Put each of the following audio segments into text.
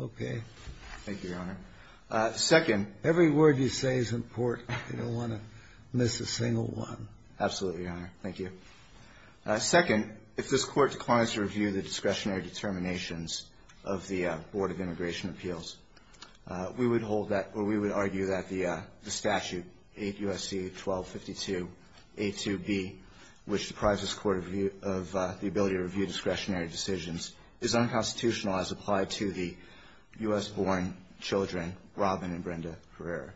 Okay. Thank you, Your Honor. Second Every word you say is important. You don't want to miss a single one. Absolutely, Your Honor. Thank you. Second, if this Court declines to review the discretionary determinations of the Board of Immigration Appeals, we would hold that, or we would argue that the statute 8 U.S.C. 1252 A2B, which deprives this Court of the ability to review discretionary decisions, is unconstitutional as applied to the U.S.-born children, Robin and Brenda Herrera.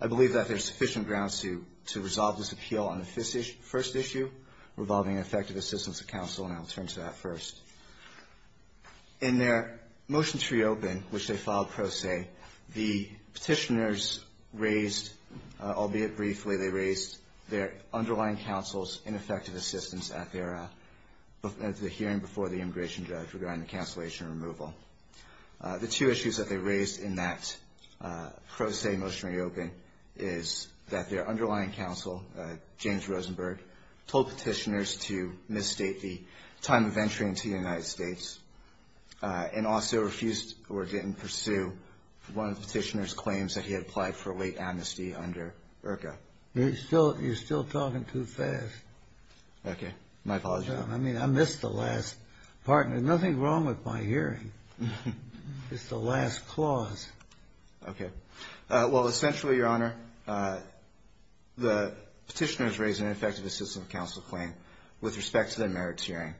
I believe that there is sufficient ground to resolve this appeal on the first issue, revolving effective assistance of counsel, and I will turn to that first. In their motion to reopen, which they filed pro se, the petitioners raised, albeit briefly, they raised their underlying counsel's ineffective assistance at the hearing before the immigration judge regarding the cancellation and removal. The two issues that they raised in that pro se motion to reopen is that their underlying counsel, James Rosenberg, told petitioners to misstate the time of entry into the United States, and also refused or didn't pursue one of the petitioners' claims that he had applied for a late amnesty under IRCA. You're still talking too fast. Okay. My apologies. I mean, I missed the last part. There's nothing wrong with my hearing. It's the last clause. Okay. Well, essentially, Your Honor, the petitioners raised an ineffective assistance of counsel claim with respect to their merits hearing.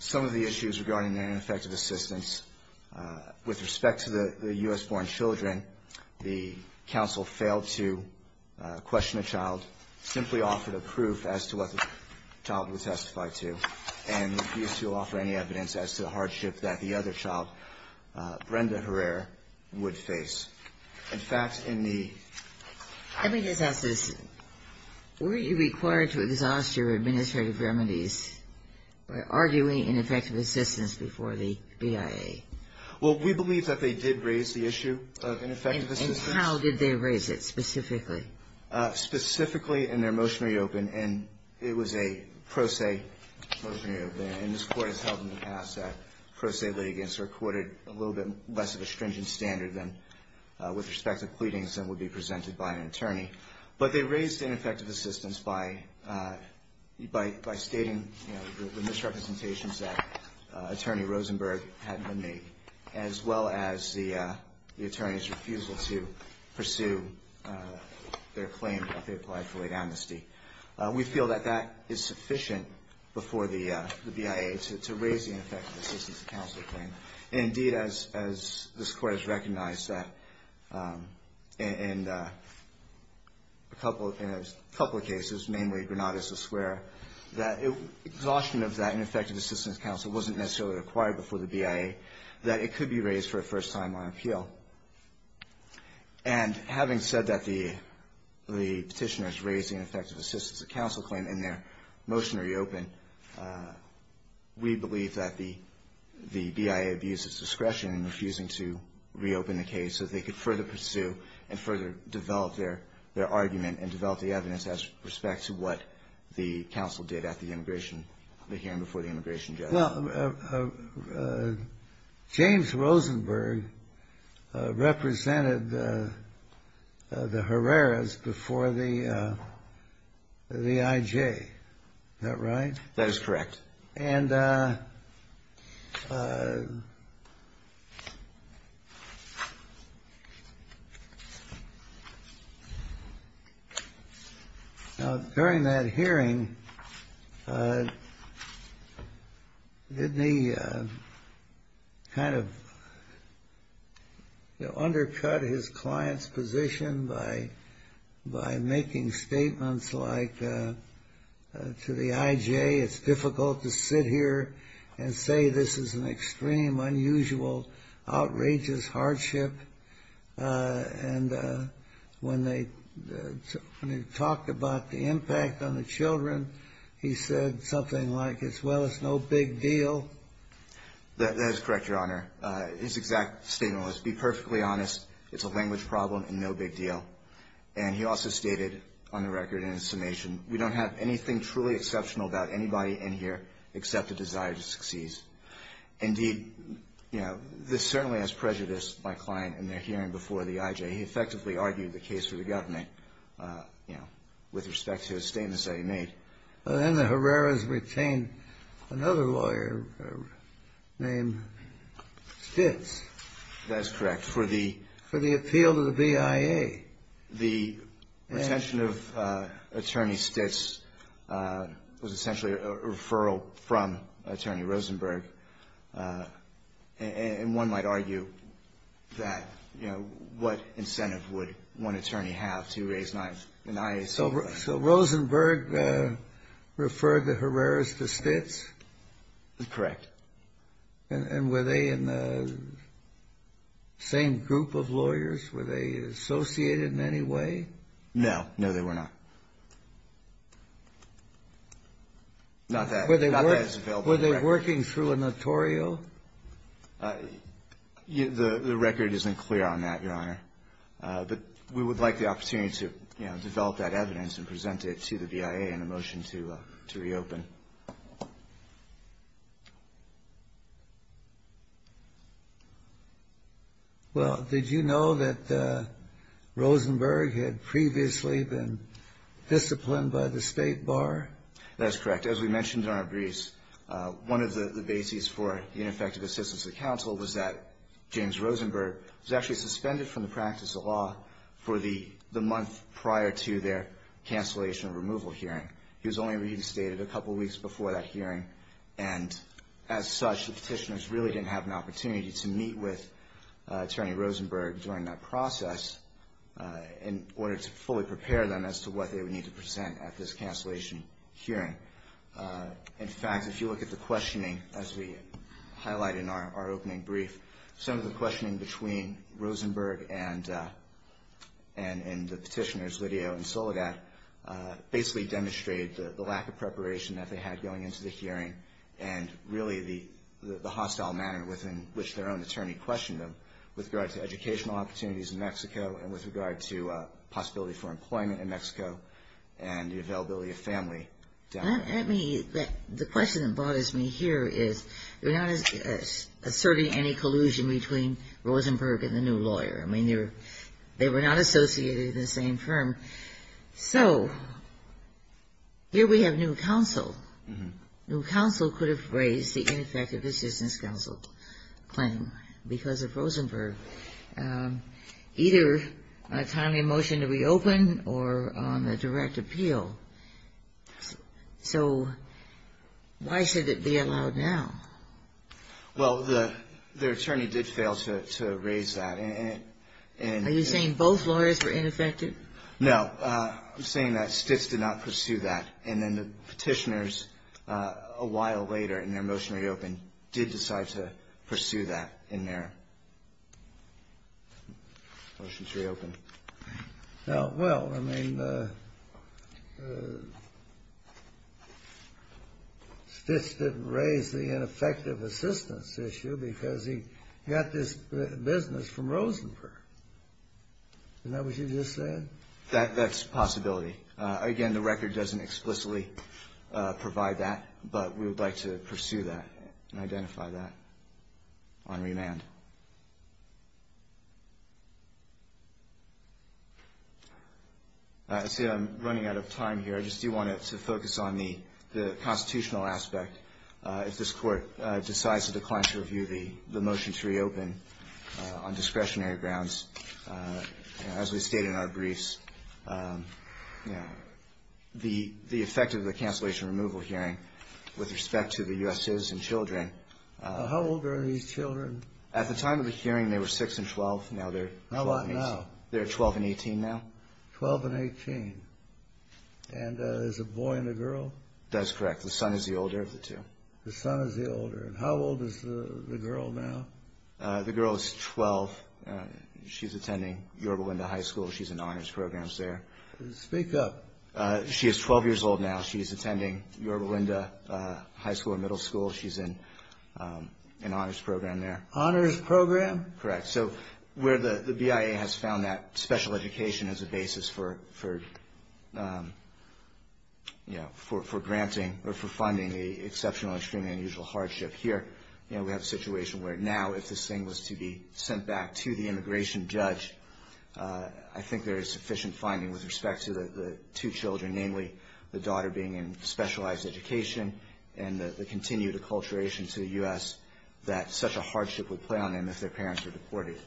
Some of the issues regarding their ineffective assistance, with respect to the U.S.-born children, the counsel failed to question the child, simply offered a proof as to what the child would testify to, and refused to offer any evidence as to the hardship that the other child, Brenda Herrera, would face. In fact, in the ---- Justice, were you required to exhaust your administrative remedies by arguing ineffective assistance before the BIA? Well, we believe that they did raise the issue of ineffective assistance. And how did they raise it specifically? Specifically in their motion to reopen. And it was a pro se motion to reopen. And this Court has held in the past that pro se litigants are quoted a little bit less of a stringent standard than with respect to pleadings than would be presented by an attorney. But they raised ineffective assistance by stating, you know, the misrepresentations that Attorney Rosenberg had made, as well as the attorney's refusal to pursue their claim that they applied for late amnesty. We feel that that is sufficient before the BIA to raise the ineffective assistance of counsel claim. Indeed, as this Court has recognized that in a couple of cases, mainly Granada Square, that exhaustion of that ineffective assistance of counsel wasn't necessarily required before the BIA, that it could be raised for a first time on appeal. And having said that the petitioners raised the ineffective assistance of counsel claim in their motion to reopen, we believe that the BIA abused its discretion in refusing to reopen the case so they could further pursue and further develop their argument and develop the evidence as respect to what the counsel did at the immigration, the hearing before the immigration judge. Well, James Rosenberg represented the Herreras before the IJ. Is that right? That is correct. And during that hearing, didn't he kind of undercut his client's position by making statements like to the IJ, it's difficult to sit here and say this is an extreme, unusual, outrageous hardship? And when they talked about the impact on the children, he said something like, well, it's no big deal. That is correct, Your Honor. His exact statement was, be perfectly honest, it's a language problem and no big deal. And he also stated on the record in his summation, we don't have anything truly exceptional about anybody in here except a desire to succeed. Indeed, you know, this certainly has prejudiced my client in their hearing before the IJ. He effectively argued the case for the government, you know, with respect to his statements that he made. Then the Herreras retained another lawyer named Stitz. That is correct. For the appeal to the BIA. The retention of Attorney Stitz was essentially a referral from Attorney Rosenberg. And one might argue that, you know, what incentive would one attorney have to raise an IAS? So Rosenberg referred the Herreras to Stitz? Correct. And were they in the same group of lawyers? Were they associated in any way? No. No, they were not. Were they working through a notorio? The record isn't clear on that, Your Honor. But we would like the opportunity to, you know, develop that evidence and present it to the BIA in a motion to reopen. Well, did you know that Rosenberg had previously been disciplined by the State Bar? That is correct. As we mentioned in our briefs, one of the bases for ineffective assistance to the counsel was that James Rosenberg was actually suspended from the practice of law for the month prior to their cancellation removal hearing. He was only reinstated a couple weeks before that hearing. And as such, the petitioners really didn't have an opportunity to meet with Attorney Rosenberg during that process in order to fully prepare them as to what they would need to present at this cancellation hearing. In fact, if you look at the questioning, as we highlight in our opening brief, some of the questioning between Rosenberg and the petitioners, Lidio and Soledad, basically demonstrated the lack of preparation that they had going into the hearing and really the hostile manner within which their own attorney questioned them with regard to educational opportunities in Mexico and with regard to possibility for employment The question that bothers me here is they're not asserting any collusion between Rosenberg and the new lawyer. I mean, they were not associated in the same firm. So here we have new counsel. New counsel could have raised the ineffective assistance counsel claim because of Rosenberg, either on a timely motion to reopen or on a direct appeal. So why should it be allowed now? Well, their attorney did fail to raise that. Are you saying both lawyers were ineffective? No. I'm saying that Stitz did not pursue that. And then the petitioners, a while later in their motion to reopen, did decide to pursue that in their motion to reopen. Well, I mean, Stitz didn't raise the ineffective assistance issue because he got this business from Rosenberg. Isn't that what you just said? That's a possibility. Again, the record doesn't explicitly provide that. But we would like to pursue that and identify that on remand. I see I'm running out of time here. I just do want to focus on the constitutional aspect. If this Court decides to decline to review the motion to reopen on discretionary grounds, as we stated in our briefs, the effect of the cancellation removal hearing with respect to the U.S. citizens and children. How old are these children? At the time of the hearing, they were 6 and 12. Now they're 12 and 18. They're 12 and 18 now? 12 and 18. And there's a boy and a girl? That's correct. The son is the older of the two. The son is the older. And how old is the girl now? The girl is 12. She's attending Yorba Linda High School. She's in honors programs there. Speak up. She is 12 years old now. She's attending Yorba Linda High School and Middle School. She's in an honors program there. Honors program? Correct. So where the BIA has found that special education as a basis for granting or for funding the exceptional, extremely unusual hardship here, you know, we have a situation where now if this thing was to be sent back to the immigration judge, I think there is sufficient finding with respect to the two children, namely the daughter being in specialized education and the continued acculturation to the U.S., that such a hardship would play on them if their parents were deported,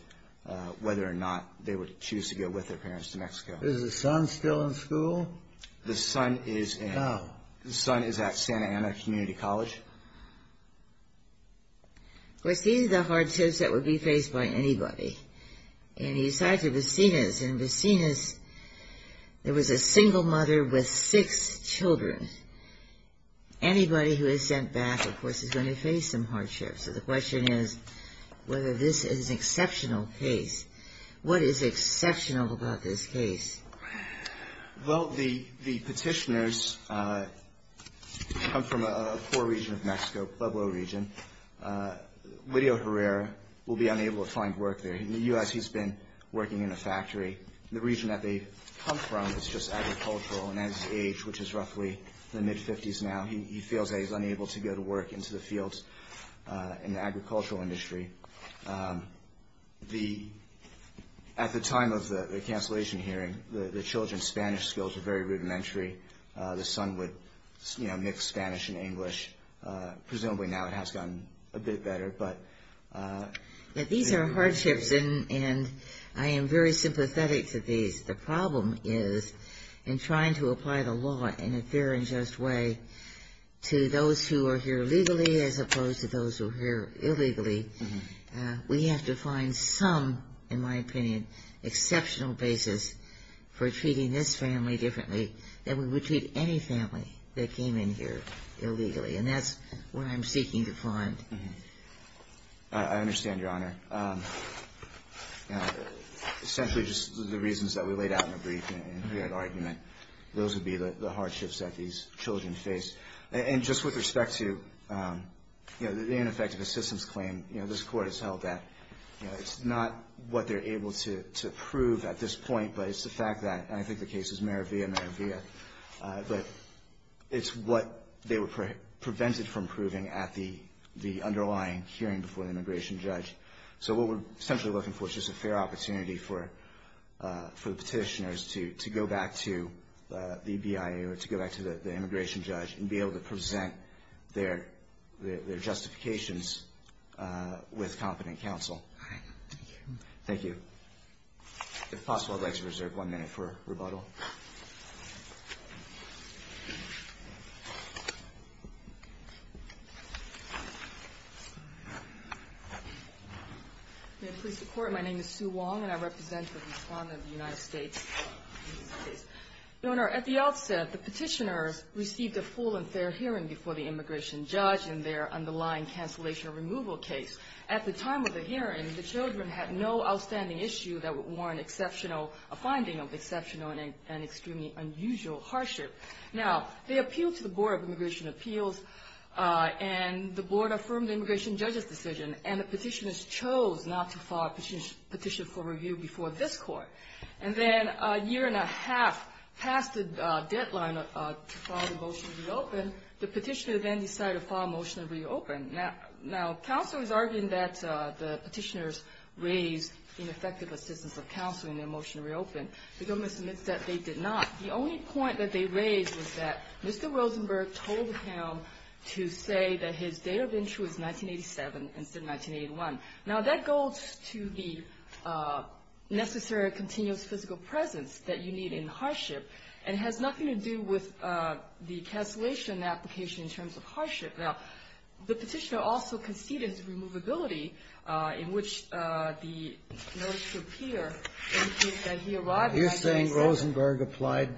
whether or not they would choose to go with their parents to Mexico. Is the son still in school? The son is in. How? The son is at Santa Ana Community College. Of course, these are the hardships that would be faced by anybody. And he's tied to Vecinas, and in Vecinas there was a single mother with six children. Anybody who is sent back, of course, is going to face some hardships. So the question is whether this is an exceptional case. What is exceptional about this case? Well, the petitioners come from a poor region of Mexico, Pueblo region. Lidio Herrera will be unable to find work there. In the U.S. he's been working in a factory. The region that they come from is just agricultural, and at his age, which is roughly the mid-50s now, he feels that he's unable to go to work into the fields in the agricultural industry. At the time of the cancellation hearing, the children's Spanish skills were very rudimentary. The son would mix Spanish and English. Presumably now it has gotten a bit better. These are hardships, and I am very sympathetic to these. The problem is in trying to apply the law in a fair and just way to those who are here legally as opposed to those who are here illegally, we have to find some, in my opinion, exceptional basis for treating this family differently than we would treat any family that came in here illegally. And that's what I'm seeking to find. I understand, Your Honor. Essentially, just the reasons that we laid out in the brief and the argument, those would be the hardships that these children face. And just with respect to the ineffective assistance claim, this Court has held that it's not what they're able to prove at this point, but it's the fact that, and I think the case is Mera Via, Mera Via, but it's what they were prevented from proving at the underlying hearing before the immigration judge. So what we're essentially looking for is just a fair opportunity for the petitioners to go back to the BIA or to go back to the immigration judge and be able to present their justifications with confident counsel. All right. Thank you. Thank you. If possible, I'd like to reserve one minute for rebuttal. May it please the Court. My name is Sue Wong, and I represent the Respondent of the United States. Your Honor, at the outset, the petitioners received a full and fair hearing before the immigration judge in their underlying cancellation removal case. At the time of the hearing, the children had no outstanding issue that would warrant a finding of exceptional and extremely unusual hardship. Now, they appealed to the Board of Immigration Appeals, and the Board affirmed the immigration judge's decision, and the petitioners chose not to file a petition for review before this Court. And then a year and a half past the deadline to file the motion to reopen, the petitioners then decided to file a motion to reopen. Now, counsel is arguing that the petitioners raised ineffective assistance of counsel in their motion to reopen. The government submits that they did not. The only point that they raised was that Mr. Rosenberg told him to say that his date of entry was 1987 instead of 1981. Now, that goes to the necessary continuous physical presence that you need in hardship, and it has nothing to do with the cancellation application in terms of hardship. Now, the petitioner also conceded to removability in which the notice should appear indicates that he arrived by 1987. You're saying Rosenberg applied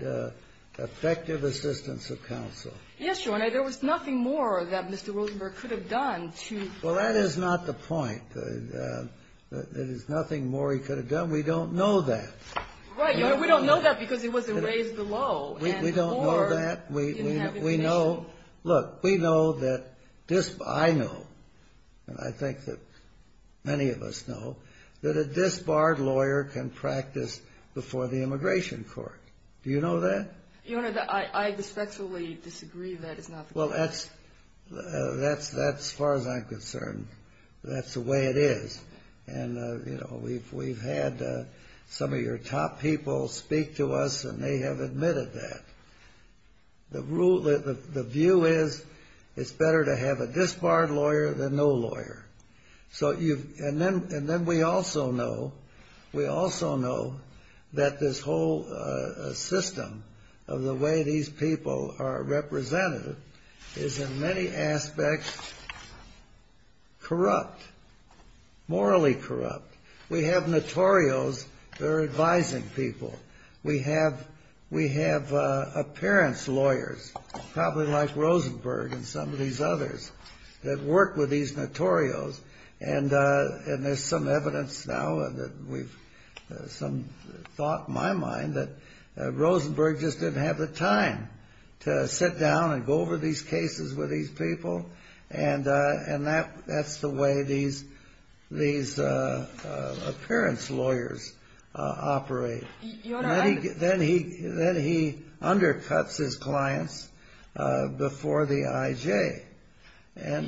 effective assistance of counsel? Yes, Your Honor. There was nothing more that Mr. Rosenberg could have done to add to that. Well, that is not the point. There is nothing more he could have done. We don't know that. Right, Your Honor. We don't know that because it wasn't raised below. We don't know that. We didn't have information. Look, we know that I know, and I think that many of us know, that a disbarred lawyer can practice before the Immigration Court. Do you know that? Your Honor, I respectfully disagree that it's not the case. Well, that's as far as I'm concerned. That's the way it is. And, you know, we've had some of your top people speak to us, and they have admitted that. The view is it's better to have a disbarred lawyer than no lawyer. And then we also know that this whole system of the way these people are represented is, in many aspects, corrupt, morally corrupt. We have notorios that are advising people. We have appearance lawyers, probably like Rosenberg and some of these others, that work with these notorios. And there's some evidence now that we've some thought in my mind that Rosenberg just didn't have the time to sit down and go over these cases with these people, and that's the way these appearance lawyers operate. Your Honor, I Then he undercuts his clients before the IJ. And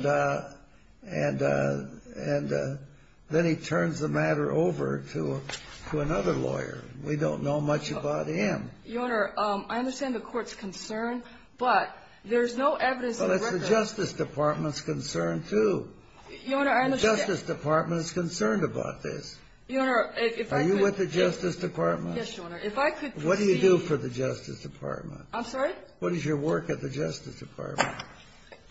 then he turns the matter over to another lawyer. We don't know much about him. Your Honor, I understand the Court's concern, but there's no evidence in the record Well, it's the Justice Department's concern, too. Your Honor, I understand The Justice Department is concerned about this. Your Honor, if I could Are you with the Justice Department? Yes, Your Honor. If I could proceed What do you do for the Justice Department? I'm sorry? What is your work at the Justice Department?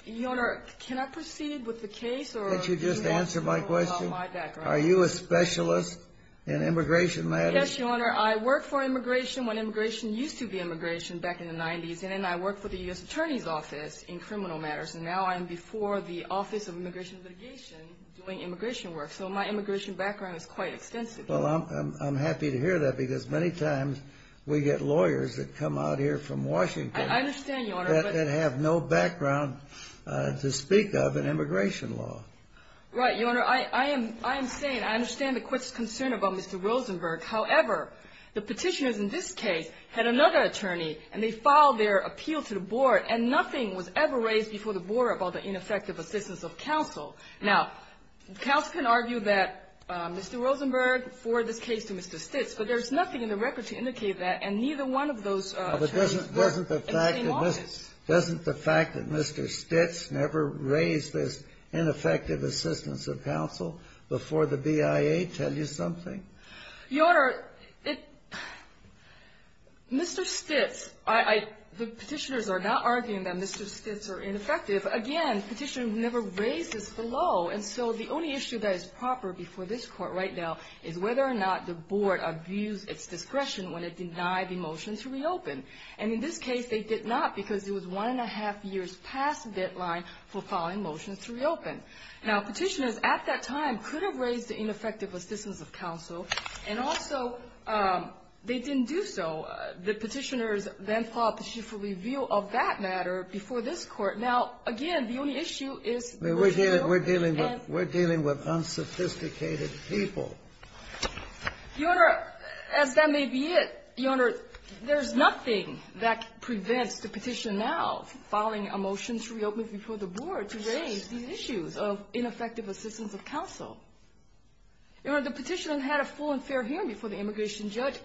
Your Honor, can I proceed with the case? Can't you just answer my question? Are you a specialist in immigration matters? Yes, Your Honor. I worked for immigration when immigration used to be immigration back in the 90s. And then I worked for the U.S. Attorney's Office in criminal matters. And now I'm before the Office of Immigration and Litigation doing immigration work. So my immigration background is quite extensive. Well, I'm happy to hear that because many times we get lawyers that come out here from Washington I understand, Your Honor, but that have no background to speak of in immigration law. Right. Your Honor, I am saying I understand the Court's concern about Mr. Rosenberg. However, the Petitioners in this case had another attorney, and they filed their appeal to the Board, and nothing was ever raised before the Board about the ineffective assistance of counsel. Now, counsel can argue that Mr. Rosenberg forwarded this case to Mr. Stitz, but there's nothing in the record to indicate that, and neither one of those attorneys were in the same office. Doesn't the fact that Mr. Stitz never raised this ineffective assistance of counsel before the BIA tell you something? Your Honor, it — Mr. Stitz, I — the Petitioners are not arguing that Mr. Stitz are ineffective. Again, Petitioners never raised this below, and so the only issue that is proper before this Court right now is whether or not the Board abused its discretion when it denied the motion to reopen. And in this case, they did not because it was one-and-a-half years past the deadline for filing motions to reopen. Now, Petitioners at that time could have raised the ineffective assistance of counsel, and also they didn't do so. The Petitioners then filed Petition for Review of that matter before this Court. Now, again, the only issue is — We're dealing with unsophisticated people. Your Honor, as that may be it, Your Honor, there's nothing that prevents the Petitioner now filing a motion to reopen before the Board to raise these issues of ineffective assistance of counsel. Your Honor, the Petitioner had a full and fair hearing before the immigration judge.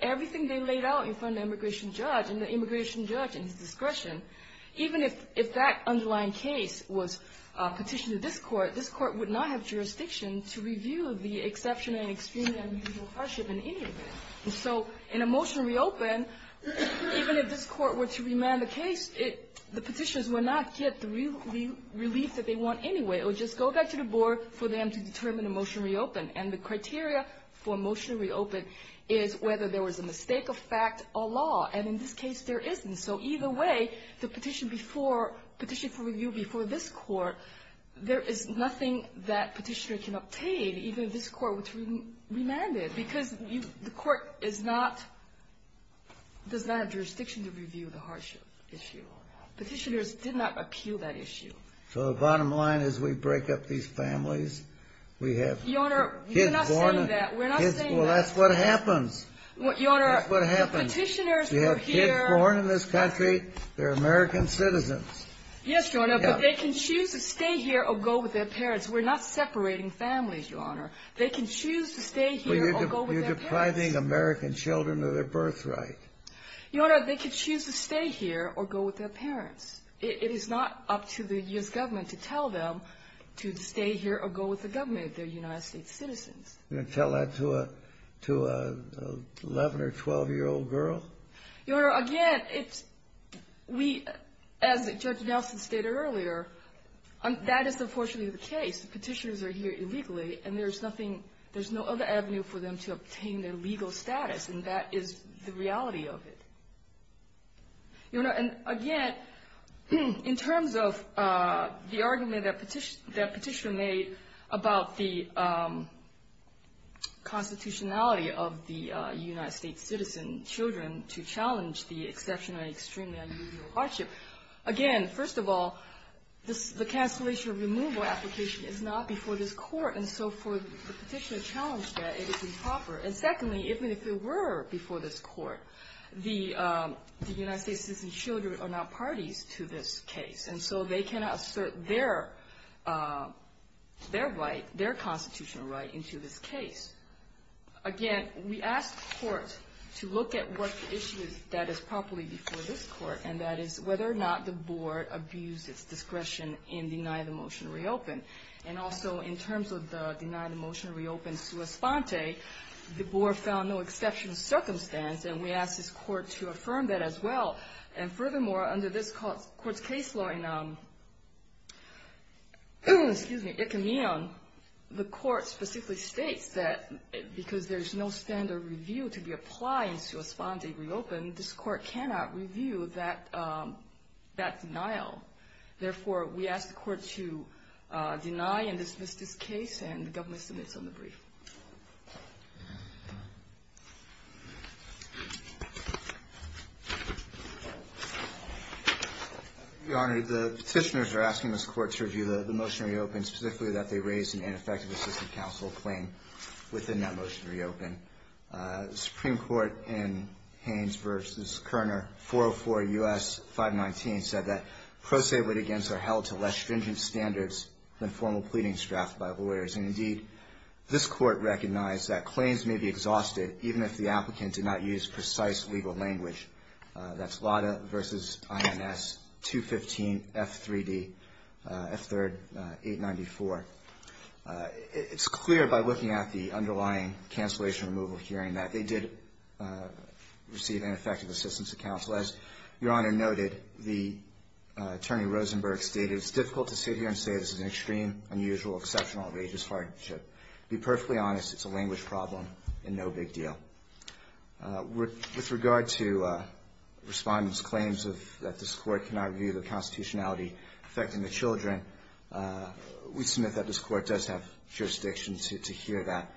was petitioned to this Court, this Court would not have jurisdiction to review the exceptional and extremely unusual hardship in any event. And so in a motion to reopen, even if this Court were to remand the case, the Petitioners would not get the relief that they want anyway. It would just go back to the Board for them to determine a motion to reopen. And the criteria for a motion to reopen is whether there was a mistake of fact or law. And in this case, there isn't. And so either way, the petition before — Petition for Review before this Court, there is nothing that Petitioner can obtain, even if this Court were to remand it, because the Court is not — does not have jurisdiction to review the hardship issue. Petitioners did not appeal that issue. So the bottom line is we break up these families. We have kids born — Your Honor, we're not saying that. We're not saying that. Your Honor, Petitioners — That's what happens. You have kids born in this country. They're American citizens. Yes, Your Honor, but they can choose to stay here or go with their parents. We're not separating families, Your Honor. They can choose to stay here or go with their parents. But you're depriving American children of their birthright. Your Honor, they can choose to stay here or go with their parents. It is not up to the U.S. government to tell them to stay here or go with the government. They're United States citizens. You're going to tell that to an 11- or 12-year-old girl? Your Honor, again, it's — we — as Judge Nelson stated earlier, that is unfortunately the case. Petitioners are here illegally, and there's nothing — there's no other avenue for them to obtain their legal status, and that is the reality of it. Your Honor, and again, in terms of the argument that Petitioner — that Petitioner made about the constitutionality of the United States citizen children to challenge the exception of an extremely unusual hardship, again, first of all, this — the cancellation of removal application is not before this court, and so for the petitioner to challenge that, it is improper. And secondly, even if it were before this court, the United States citizen children are not parties to this case. And so they cannot assert their — their right, their constitutional right into this case. Again, we asked the court to look at what the issue is that is properly before this court, and that is whether or not the board abused its discretion in denying the motion to reopen. And also, in terms of the denying the motion to reopen sua sponte, the board found no exception circumstance, and we asked this court to affirm that as well. And furthermore, under this court's case law in — excuse me, it can be on — the court specifically states that because there's no standard review to be applied in sua sponte reopen, this court cannot review that — that denial. Therefore, we asked the court to deny and dismiss this case, and the government submits on the brief. Your Honor, the petitioners are asking this court to review the — the motion to reopen, specifically that they raised an ineffective assistant counsel claim within that motion to reopen. The Supreme Court in Haynes v. Kerner, 404 U.S. 519, said that pro se with against are held to less stringent standards than formal pleadings drafted by lawyers. And indeed, this court recognized that claims may be exhausted even if the applicant did not use precise legal language. That's Lada v. INS 215 F3D, F3rd 894. It's clear by looking at the underlying cancellation removal hearing that they did receive ineffective assistance of counsel. As Your Honor noted, the — Attorney Rosenberg stated, it's difficult to sit here and say this is an extreme, unusual, exceptional, outrageous hardship. To be perfectly honest, it's a language problem and no big deal. With regard to Respondent's claims of — that this court cannot review the constitutionality affecting the children, we submit that this court does have jurisdiction to hear that.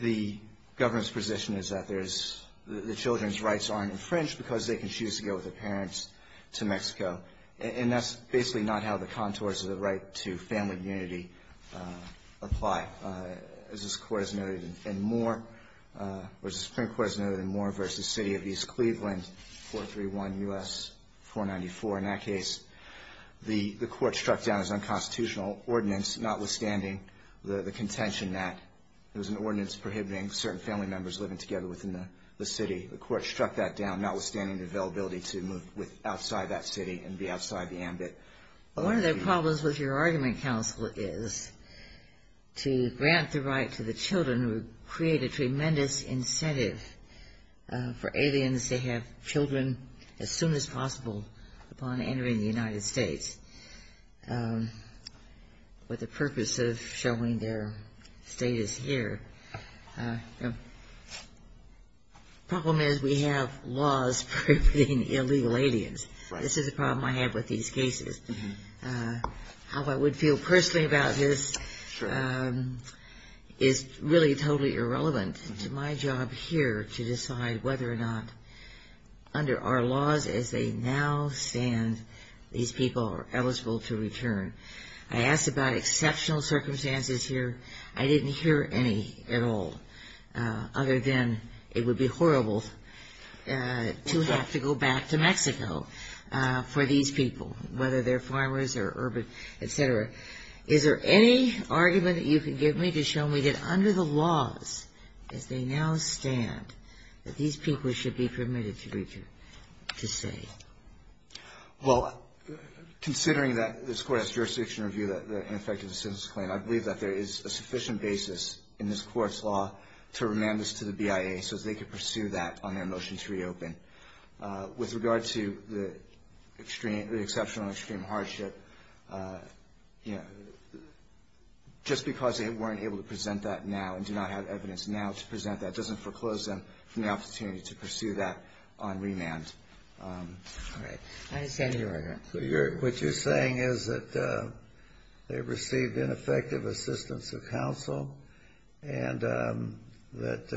The government's position is that there's — the children's rights aren't infringed because they can choose to go with their parents to Mexico. And that's basically not how the contours of the right to family unity apply, as this Supreme Court has noted in Moore v. City of East Cleveland, 431 U.S. 494. In that case, the court struck down its unconstitutional ordinance, notwithstanding the contention that there's an ordinance prohibiting certain family members living together within the city. The court struck that down, notwithstanding the availability to move outside that city and be outside the ambit. One of the problems with your argument, counsel, is to grant the right to the children would create a tremendous incentive for aliens to have children as soon as possible upon entering the United States. But the purpose of showing their status here — the problem is we have laws prohibiting illegal aliens. This is a problem I have with these cases. How I would feel personally about this is really totally irrelevant. It's my job here to decide whether or not, under our laws as they now stand, these people are eligible to return. I asked about exceptional circumstances here. I didn't hear any at all, other than it would be horrible to have to go back to Mexico for these people, whether they're farmers or urban, et cetera. Is there any argument that you can give me to show me that under the laws as they now stand, that these people should be permitted to return, to stay? Well, considering that this Court has jurisdiction to review the ineffective assistance claim, I believe that there is a sufficient basis in this Court's law to remand this to the BIA so they can pursue that on their motion to reopen. With regard to the exceptional and extreme hardship, just because they weren't able to present that now and do not have evidence now to present that doesn't foreclose them from the opportunity to pursue that on remand. All right. I understand your argument. So what you're saying is that they received ineffective assistance of counsel and that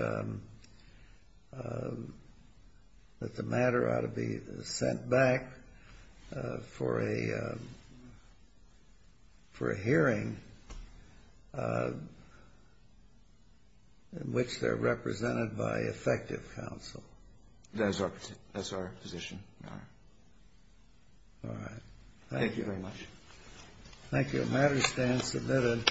the matter ought to be sent back for a hearing in which they're represented by effective counsel? All right. Thank you very much. Thank you. The matter stands submitted.